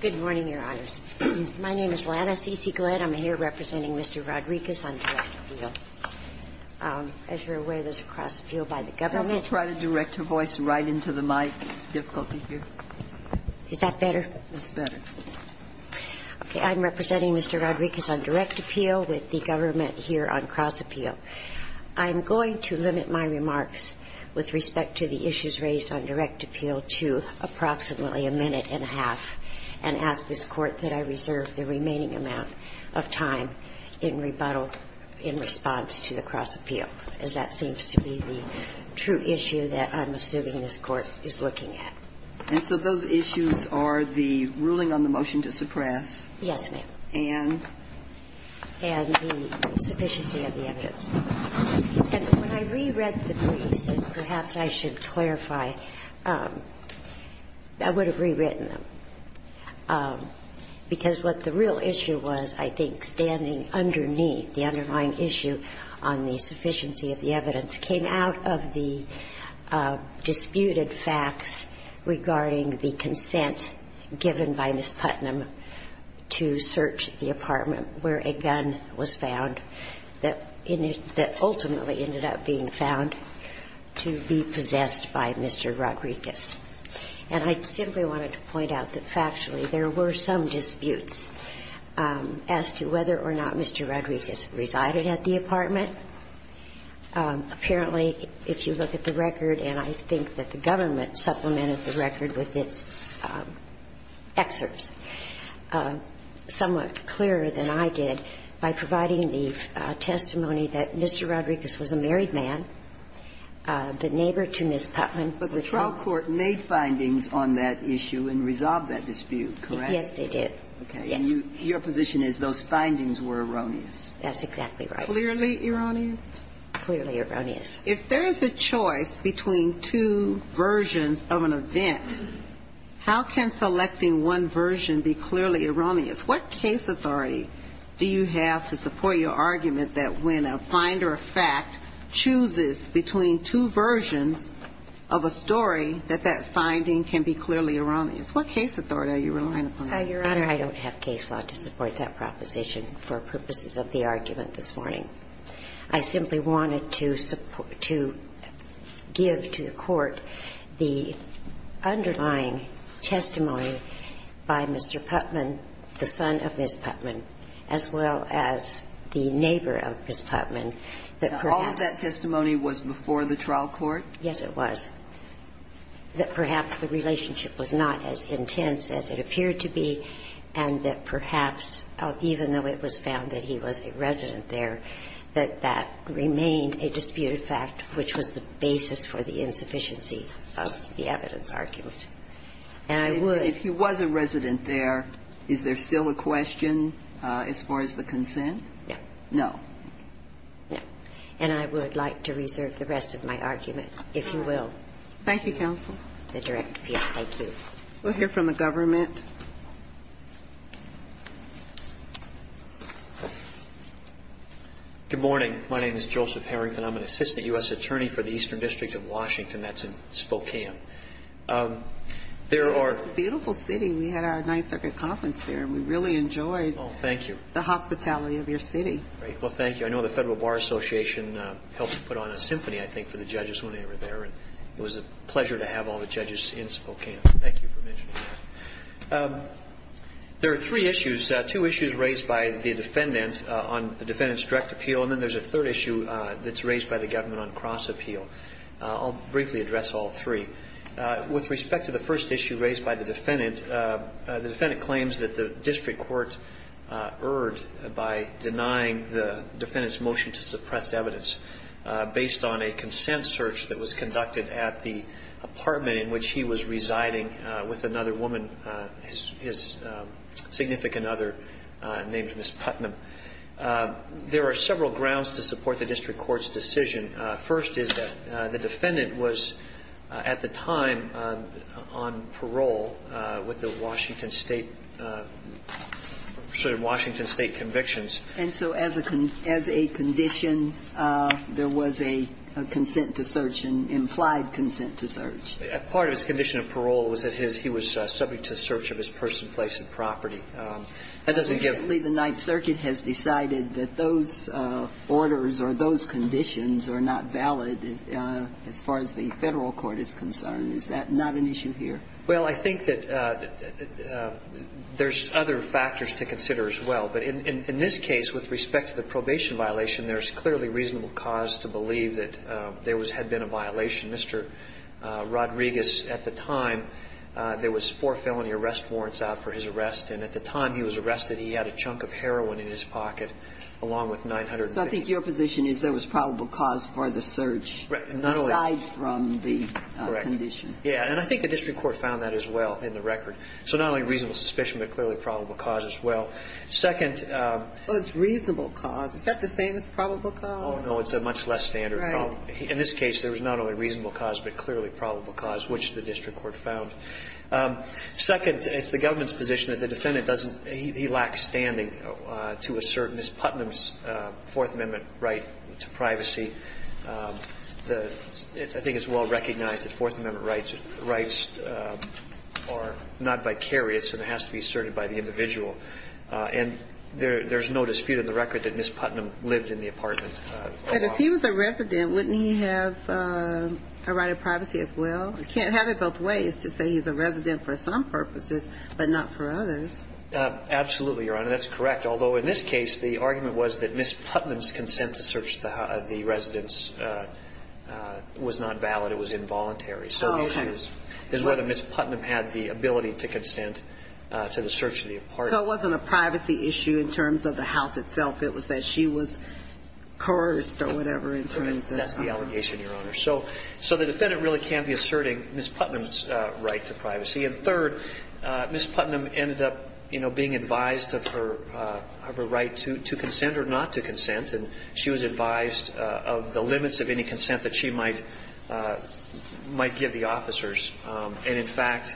Good morning, Your Honors. My name is Lana C. C. Glenn. I'm here representing Mr. Rodriquez on direct appeal. As you're aware, there's a cross-appeal by the government. I'll try to direct your voice right into the mic. It's difficult to hear. Is that better? That's better. Okay. I'm representing Mr. Rodriquez on direct appeal with the government here on cross-appeal. I'm going to limit my remarks with respect to the issues of cross-appeal to approximately a minute and a half, and ask this Court that I reserve the remaining amount of time in rebuttal in response to the cross-appeal, as that seems to be the true issue that I'm assuming this Court is looking at. And so those issues are the ruling on the motion to suppress? Yes, ma'am. And? And the sufficiency of the evidence. And when I reread the briefs, and perhaps I should clarify, I would have rewritten them, because what the real issue was, I think, standing underneath the underlying issue on the sufficiency of the evidence, came out of the disputed facts regarding the consent given by Ms. Putnam to search the apartment where a gun was found, that ultimately ended up being found to be possessed by Mr. Rodriquez. And I simply wanted to point out that factually there were some disputes as to whether or not Mr. Rodriquez resided at the apartment. Apparently, if you look at the record, and I think that the government supplemented the record with its excerpts somewhat clearer than I did by providing the testimony that Mr. Rodriquez was a married man, the neighbor to Ms. Putnam. But the trial court made findings on that issue and resolved that dispute, correct? Yes, they did. Okay. And your position is those findings were erroneous? That's exactly right. Clearly erroneous? Clearly erroneous. If there is a choice between two versions of an event, how can selecting one version be clearly erroneous? What case authority do you have to support your argument that when a finder of fact chooses between two versions of a story, that that finding can be clearly erroneous? What case authority are you relying upon? Your Honor, I don't have case law to support that proposition for purposes of the argument this morning. I simply wanted to support to give to the Court the underlying testimony by Mr. Putnam, the son of Ms. Putnam, as well as the neighbor of Ms. Putnam, that perhaps. Now, all of that testimony was before the trial court? Yes, it was. That perhaps the relationship was not as intense as it appeared to be, and that that remained a disputed fact, which was the basis for the insufficiency of the evidence argument. And I would. If he was a resident there, is there still a question as far as the consent? No. No. No. And I would like to reserve the rest of my argument, if you will. Thank you, counsel. The direct appeal. Thank you. We'll hear from the government. Good morning. My name is Joseph Harrington. I'm an assistant U.S. attorney for the Eastern District of Washington. That's in Spokane. It's a beautiful city. We had our Ninth Circuit Conference there, and we really enjoyed the hospitality of your city. Well, thank you. I know the Federal Bar Association helped put on a symphony, I think, for the judges when they were there, and it was a pleasure to have all the judges in Spokane. Thank you for mentioning that. There are three issues, two issues raised by the defendant on the defendant's direct appeal, and then there's a third issue that's raised by the government on cross appeal. I'll briefly address all three. With respect to the first issue raised by the defendant, the defendant claims that the district court erred by denying the defendant's motion to suppress evidence based on a consent search that was conducted at the apartment in which he was living with his significant other named Ms. Putnam. There are several grounds to support the district court's decision. First is that the defendant was at the time on parole with the Washington State convictions. And so as a condition, there was a consent to search, an implied consent to search. Part of his condition of parole was that his he was subject to search of his person, place, and property. That doesn't give. Obviously, the Ninth Circuit has decided that those orders or those conditions are not valid as far as the Federal court is concerned. Is that not an issue here? Well, I think that there's other factors to consider as well. But in this case, with respect to the probation violation, there's clearly reasonable cause to believe that there had been a violation. Mr. Rodriguez, at the time, there was four felony arrest warrants out for his arrest. And at the time he was arrested, he had a chunk of heroin in his pocket, along with $950. So I think your position is there was probable cause for the search. Right. Aside from the condition. Correct. Yeah. And I think the district court found that as well in the record. So not only reasonable suspicion, but clearly probable cause as well. Second. Well, it's reasonable cause. Is that the same as probable cause? Oh, no. It's a much less standard problem. Right. In this case, there was not only reasonable cause, but clearly probable cause, which the district court found. Second, it's the government's position that the defendant doesn't he lacks standing to assert Ms. Putnam's Fourth Amendment right to privacy. I think it's well recognized that Fourth Amendment rights are not vicarious and it has to be asserted by the individual. And there's no dispute in the record that Ms. Putnam lived in the apartment a lot. But if he was a resident, wouldn't he have a right of privacy as well? You can't have it both ways to say he's a resident for some purposes, but not for others. Absolutely, Your Honor. That's correct. Although, in this case, the argument was that Ms. Putnam's consent to search the residence was not valid. It was involuntary. So the issue is whether Ms. Putnam had the ability to consent to the search of the apartment. So it wasn't a privacy issue in terms of the house itself. It was that she was cursed or whatever in terms of her. That's the allegation, Your Honor. So the defendant really can be asserting Ms. Putnam's right to privacy. And third, Ms. Putnam ended up, you know, being advised of her right to consent or not to consent. And she was advised of the limits of any consent that she might give the officers. And, in fact,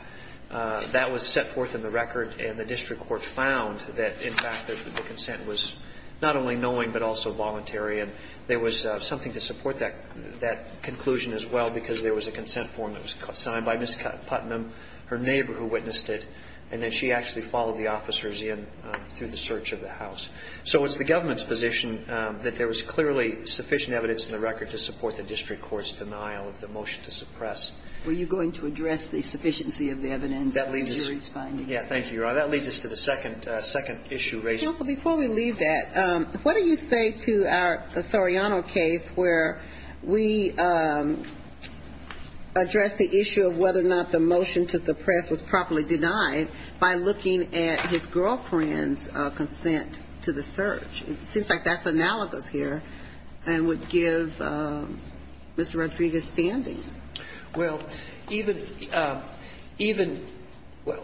that was set forth in the record, and the district court found that, in fact, the consent was not only knowing but also voluntary. And there was something to support that conclusion as well, because there was a consent form that was signed by Ms. Putnam, her neighbor who witnessed it, and then she actually followed the officers in through the search of the house. So it's the government's position that there was clearly sufficient evidence in the record to support the district court's denial of the motion to suppress. Were you going to address the sufficiency of the evidence in the jury's finding? Yeah. Thank you, Your Honor. That leads us to the second issue raised. Counsel, before we leave that, what do you say to our Soriano case where we address the issue of whether or not the motion to suppress was properly denied by looking at his girlfriend's consent to the search? It seems like that's analogous here and would give Mr. Rodriguez standing. Well, even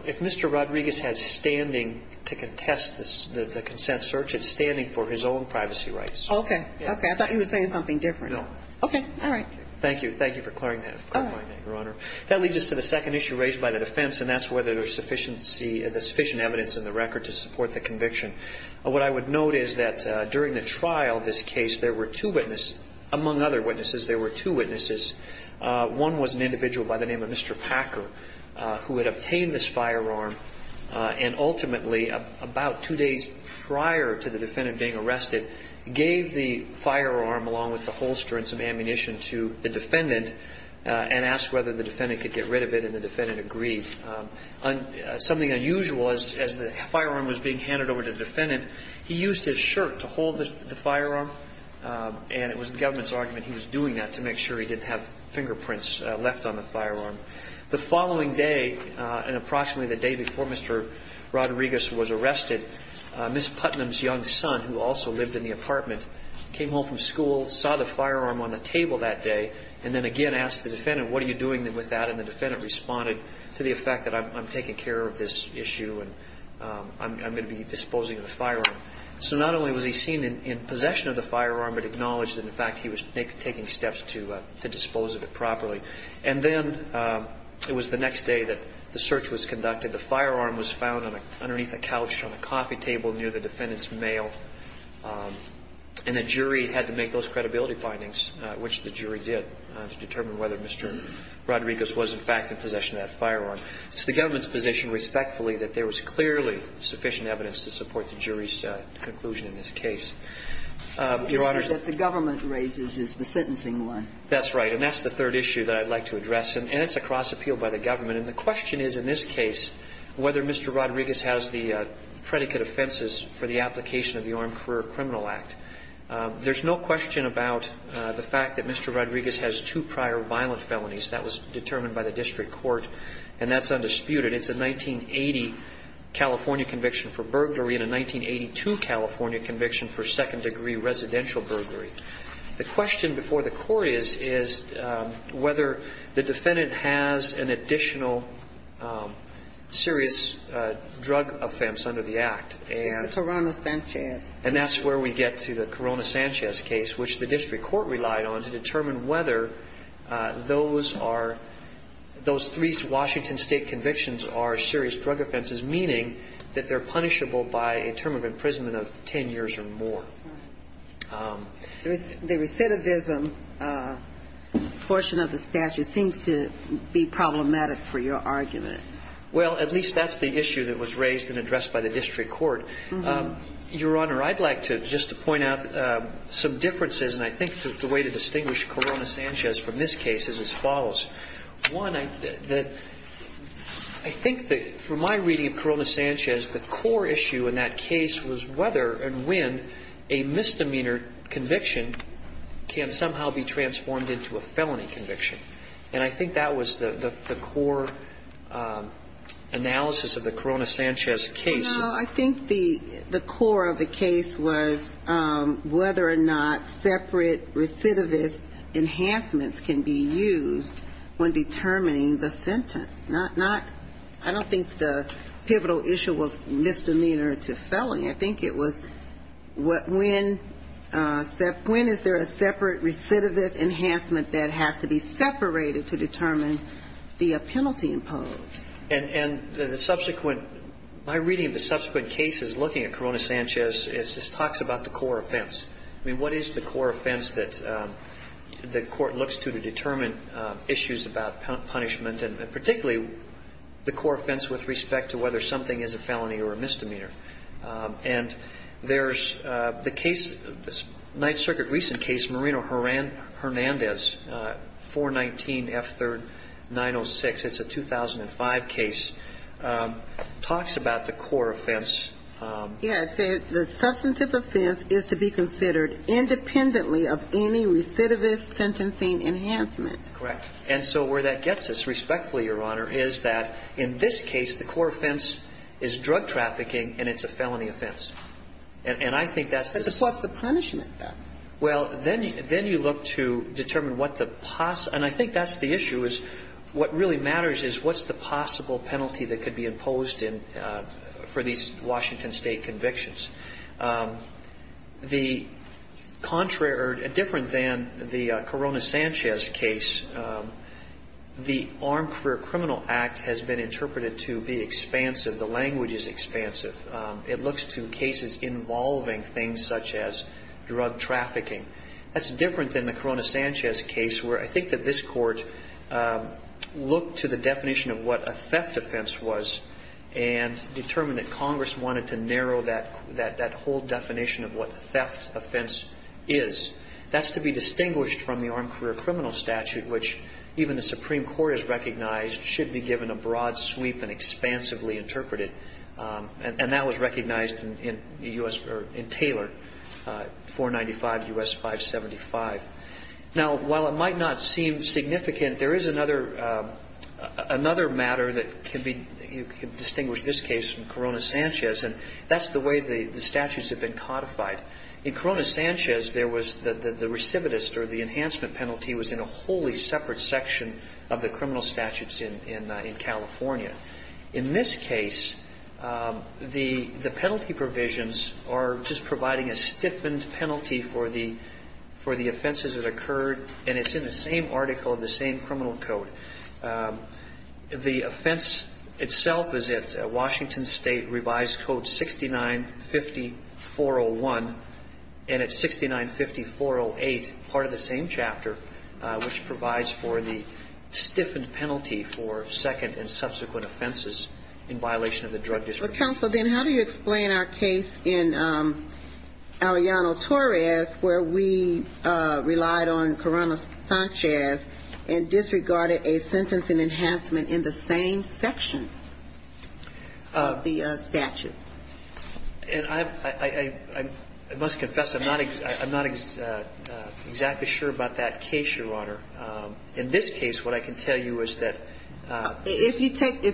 if Mr. Rodriguez had standing to contest the consent search, it's standing for his own privacy rights. Okay. Okay. I thought you were saying something different. No. Okay. All right. Thank you. Thank you for clarifying that, Your Honor. That leads us to the second issue raised by the defense, and that's whether there's sufficient evidence in the record to support the conviction. What I would note is that during the trial of this case, there were two witnesses among other witnesses. There were two witnesses. One was an individual by the name of Mr. Packer, who had obtained this firearm and ultimately, about two days prior to the defendant being arrested, gave the firearm along with the holster and some ammunition to the defendant and asked whether the defendant could get rid of it, and the defendant agreed. Something unusual is, as the firearm was being handed over to the defendant, he used his shirt to hold the firearm, and it was the government's argument he was doing that to make sure he didn't have fingerprints left on the firearm. The following day, and approximately the day before Mr. Rodriguez was arrested, Ms. Putnam's young son, who also lived in the apartment, came home from school, saw the firearm on the table that day, and then again asked the defendant, what are you doing with that? And the defendant responded to the effect that I'm taking care of this issue and I'm going to be disposing of the firearm. So not only was he seen in possession of the firearm, but acknowledged that, in fact, he was taking steps to dispose of it properly. And then it was the next day that the search was conducted. The firearm was found underneath a couch on a coffee table near the defendant's mail, and the jury had to make those credibility findings, which the jury did, to determine whether Mr. Rodriguez was, in fact, in possession of that firearm. It's the government's position, respectfully, that there was clearly sufficient evidence to support the jury's conclusion in this case. Your Honor ---- The issue that the government raises is the sentencing one. That's right. And that's the third issue that I'd like to address. And it's a cross-appeal by the government. And the question is in this case whether Mr. Rodriguez has the predicate offenses for the application of the Armed Career Criminal Act. There's no question about the fact that Mr. Rodriguez has two prior violent felonies. That was determined by the district court. And that's undisputed. It's a 1980 California conviction for burglary and a 1982 California conviction for second-degree residential burglary. The question before the court is whether the defendant has an additional serious drug offense under the Act. It's the Corona-Sanchez. And that's where we get to the Corona-Sanchez case, which the district court relied on to determine whether those are ---- those three Washington State convictions are serious drug offenses, meaning that they're punishable by a term of imprisonment of ten years or more. The recidivism portion of the statute seems to be problematic for your argument. Well, at least that's the issue that was raised and addressed by the district court. Your Honor, I'd like to just point out some differences, and I think the way to distinguish Corona-Sanchez from this case is as follows. One, I think that from my reading of Corona-Sanchez, the core issue in that case was whether and when a misdemeanor conviction can somehow be transformed into a felony conviction. And I think that was the core analysis of the Corona-Sanchez case. Well, I think the core of the case was whether or not separate recidivist enhancements can be used when determining the sentence. Not ---- I don't think the pivotal issue was misdemeanor to felony. I think it was when is there a separate recidivist enhancement that has to be separated to determine the penalty imposed. And the subsequent ---- my reading of the subsequent cases looking at Corona-Sanchez is this talks about the core offense. I mean, what is the core offense that the court looks to to determine issues about punishment, and particularly the core offense with respect to whether something is a felony or a misdemeanor? And there's the case, the Ninth Circuit recent case, Moreno-Hernandez, 419F3906. It's a 2005 case. Talks about the core offense. Yes. The substantive offense is to be considered independently of any recidivist sentencing enhancement. Correct. And so where that gets us, respectfully, Your Honor, is that in this case, the core offense is drug trafficking and it's a felony offense. And I think that's the ---- But what's the punishment, then? Well, then you look to determine what the ---- and I think that's the issue is what really matters is what's the possible penalty that could be imposed for these Washington State convictions. The contrary or different than the Corona-Sanchez case, the Armed Career Criminal Act has been interpreted to be expansive, the language is expansive. It looks to cases involving things such as drug trafficking. That's different than the Corona-Sanchez case where I think that this court looked to the definition of what a theft offense was and determined that Congress wanted to narrow that whole definition of what theft offense is. That's to be distinguished from the Armed Career Criminal Statute, which even the Supreme Court has recognized should be given a broad sweep and expansively interpreted. And that was recognized in Taylor, 495 U.S. 575. Now, while it might not seem significant, there is another matter that can be ---- you can distinguish this case from Corona-Sanchez and that's the way the statutes have been codified. In Corona-Sanchez, there was the recidivist or the enhancement penalty was in a wholly separate section of the criminal statutes in California. In this case, the penalty provisions are just providing a stiffened penalty for the offenses that occurred and it's in the same article of the same criminal code. The offense itself is at Washington State revised code 695401 and it's 695408, part of the same chapter, which provides for the stiffened penalty for second and subsequent offenses in violation of the Drug Discipline Act. Counsel, then how do you explain our case in Aliano-Torres where we relied on Corona-Sanchez and disregarded a sentence in enhancement in the same section of the statute? And I must confess I'm not exactly sure about that case, Your Honor. In this case, what I can tell you is that ---- If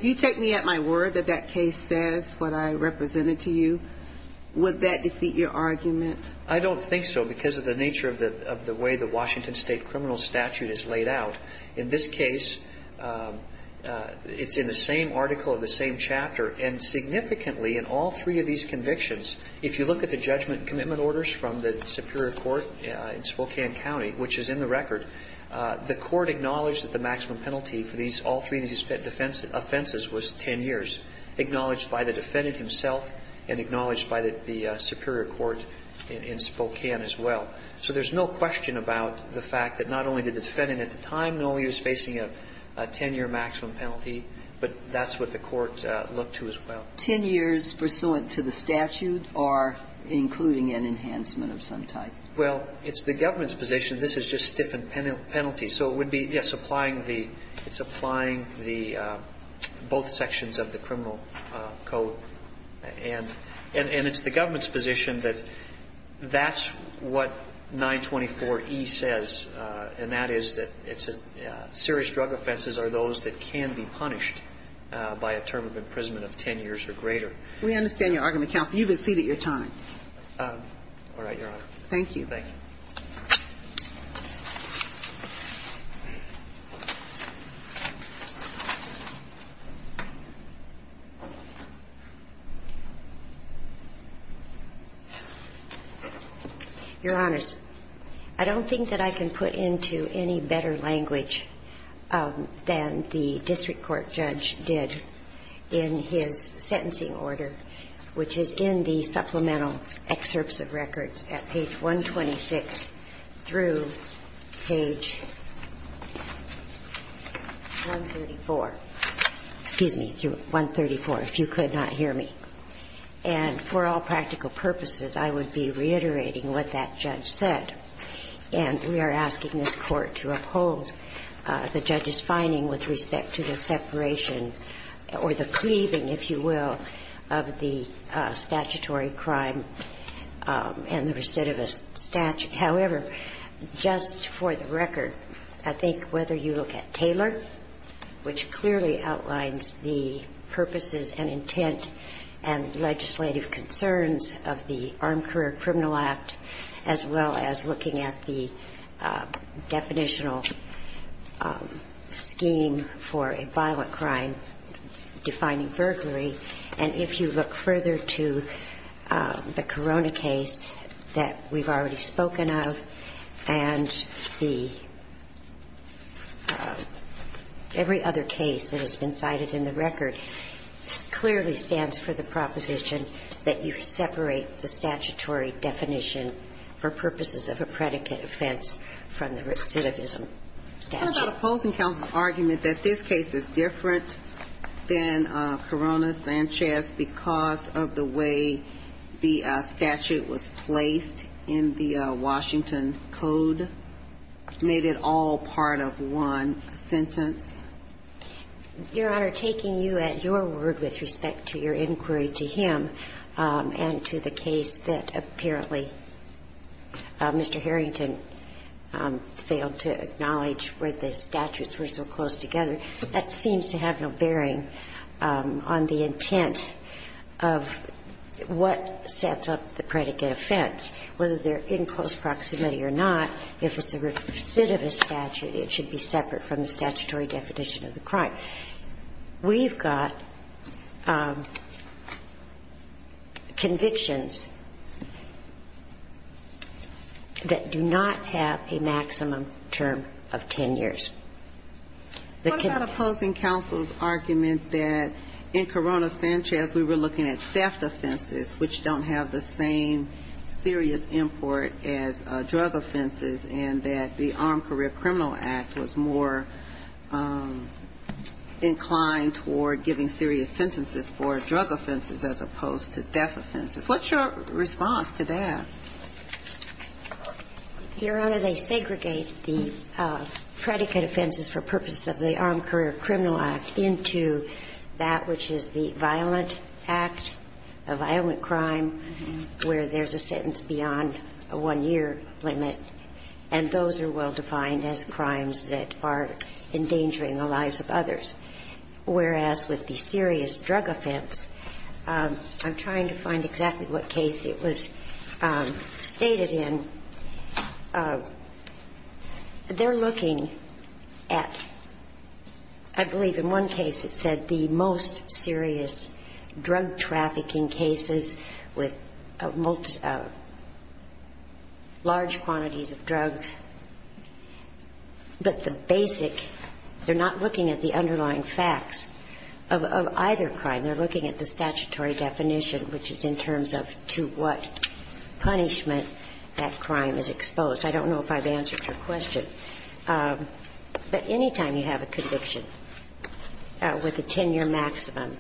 you take me at my word that that case says what I represented to you, would that defeat your argument? I don't think so because of the nature of the way the Washington State criminal statute is laid out. In this case, it's in the same article of the same chapter and significantly in all three of these convictions, if you look at the judgment and commitment Superior Court in Spokane County, which is in the record, the court acknowledged that the maximum penalty for these all three offenses was 10 years, acknowledged by the defendant himself and acknowledged by the Superior Court in Spokane as well. So there's no question about the fact that not only did the defendant at the time know he was facing a 10-year maximum penalty, but that's what the court looked to as well. And so the question is, is that 10 years pursuant to the statute or including an enhancement of some type? Well, it's the government's position. This is just stiffened penalties. So it would be, yes, applying the ---- it's applying the ---- both sections of the criminal code. And it's the government's position that that's what 924E says, and that is that serious drug offenses are those that can be punished by a term of imprisonment of 10 years or greater. We understand your argument, counsel. You've exceeded your time. All right, Your Honor. Thank you. Thank you. Your Honors, I don't think that I can put into any better language than the district court judge did in his sentencing order, which is in the supplemental excerpts of records at page 126 through page 134. Excuse me, through 134, if you could not hear me. And for all practical purposes, I would be reiterating what that judge said. And we are asking this Court to uphold the judge's finding with respect to the separation or the cleaving, if you will, of the statutory crime and the recidivist statute. However, just for the record, I think whether you look at Taylor, which clearly outlines the purposes and intent and legislative concerns of the Armed Career Criminal Act, as well as looking at the definitional scheme for a violent crime defining burglary, and if you look further to the Corona case that we've already spoken of and the every other case that has been cited in the record, clearly stands for the proposition that you separate the statutory definition for purposes of a predicate offense from the recidivism statute. What about opposing counsel's argument that this case is different than Corona-Sanchez because of the way the statute was placed in the Washington Code, made it all part of one sentence? Your Honor, taking you at your word with respect to your inquiry to him and to the case that apparently Mr. Harrington failed to acknowledge where the statutes were so close together, that seems to have no bearing on the intent of what sets up the predicate offense. Whether they're in close proximity or not, if it's a recidivist statute, it should be separate from the statutory definition of the crime. We've got convictions that do not have a maximum term of 10 years. What about opposing counsel's argument that in Corona-Sanchez we were looking at theft offenses, which don't have the same serious import as drug offenses, and that the Armed Career Criminal Act was more inclined toward giving serious sentences for drug offenses as opposed to theft offenses? What's your response to that? Your Honor, they segregate the predicate offenses for purposes of the Armed Career Criminal Act into that which is the violent act, a violent crime, where there's a sentence beyond a one-year limit. And those are well-defined as crimes that are endangering the lives of others. Whereas with the serious drug offense, I'm trying to find exactly what case it was stated in. They're looking at, I believe in one case it said the most serious drug trafficking cases with large quantities of drugs. But the basic, they're not looking at the underlying facts of either crime. They're looking at the statutory definition, which is in terms of to what punishment that crime is exposed. I don't know if I've answered your question. But any time you have a conviction with a 10-year maximum,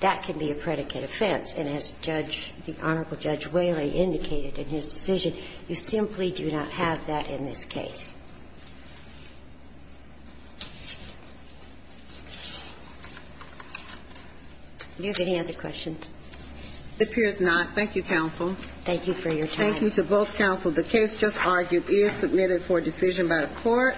that can be a predicate offense, and as Judge, the Honorable Judge Whaley indicated in his decision, you simply do not have that in this case. Do you have any other questions? It appears not. Thank you, counsel. Thank you for your time. Thank you to both counsel. The case just argued is submitted for decision by the Court.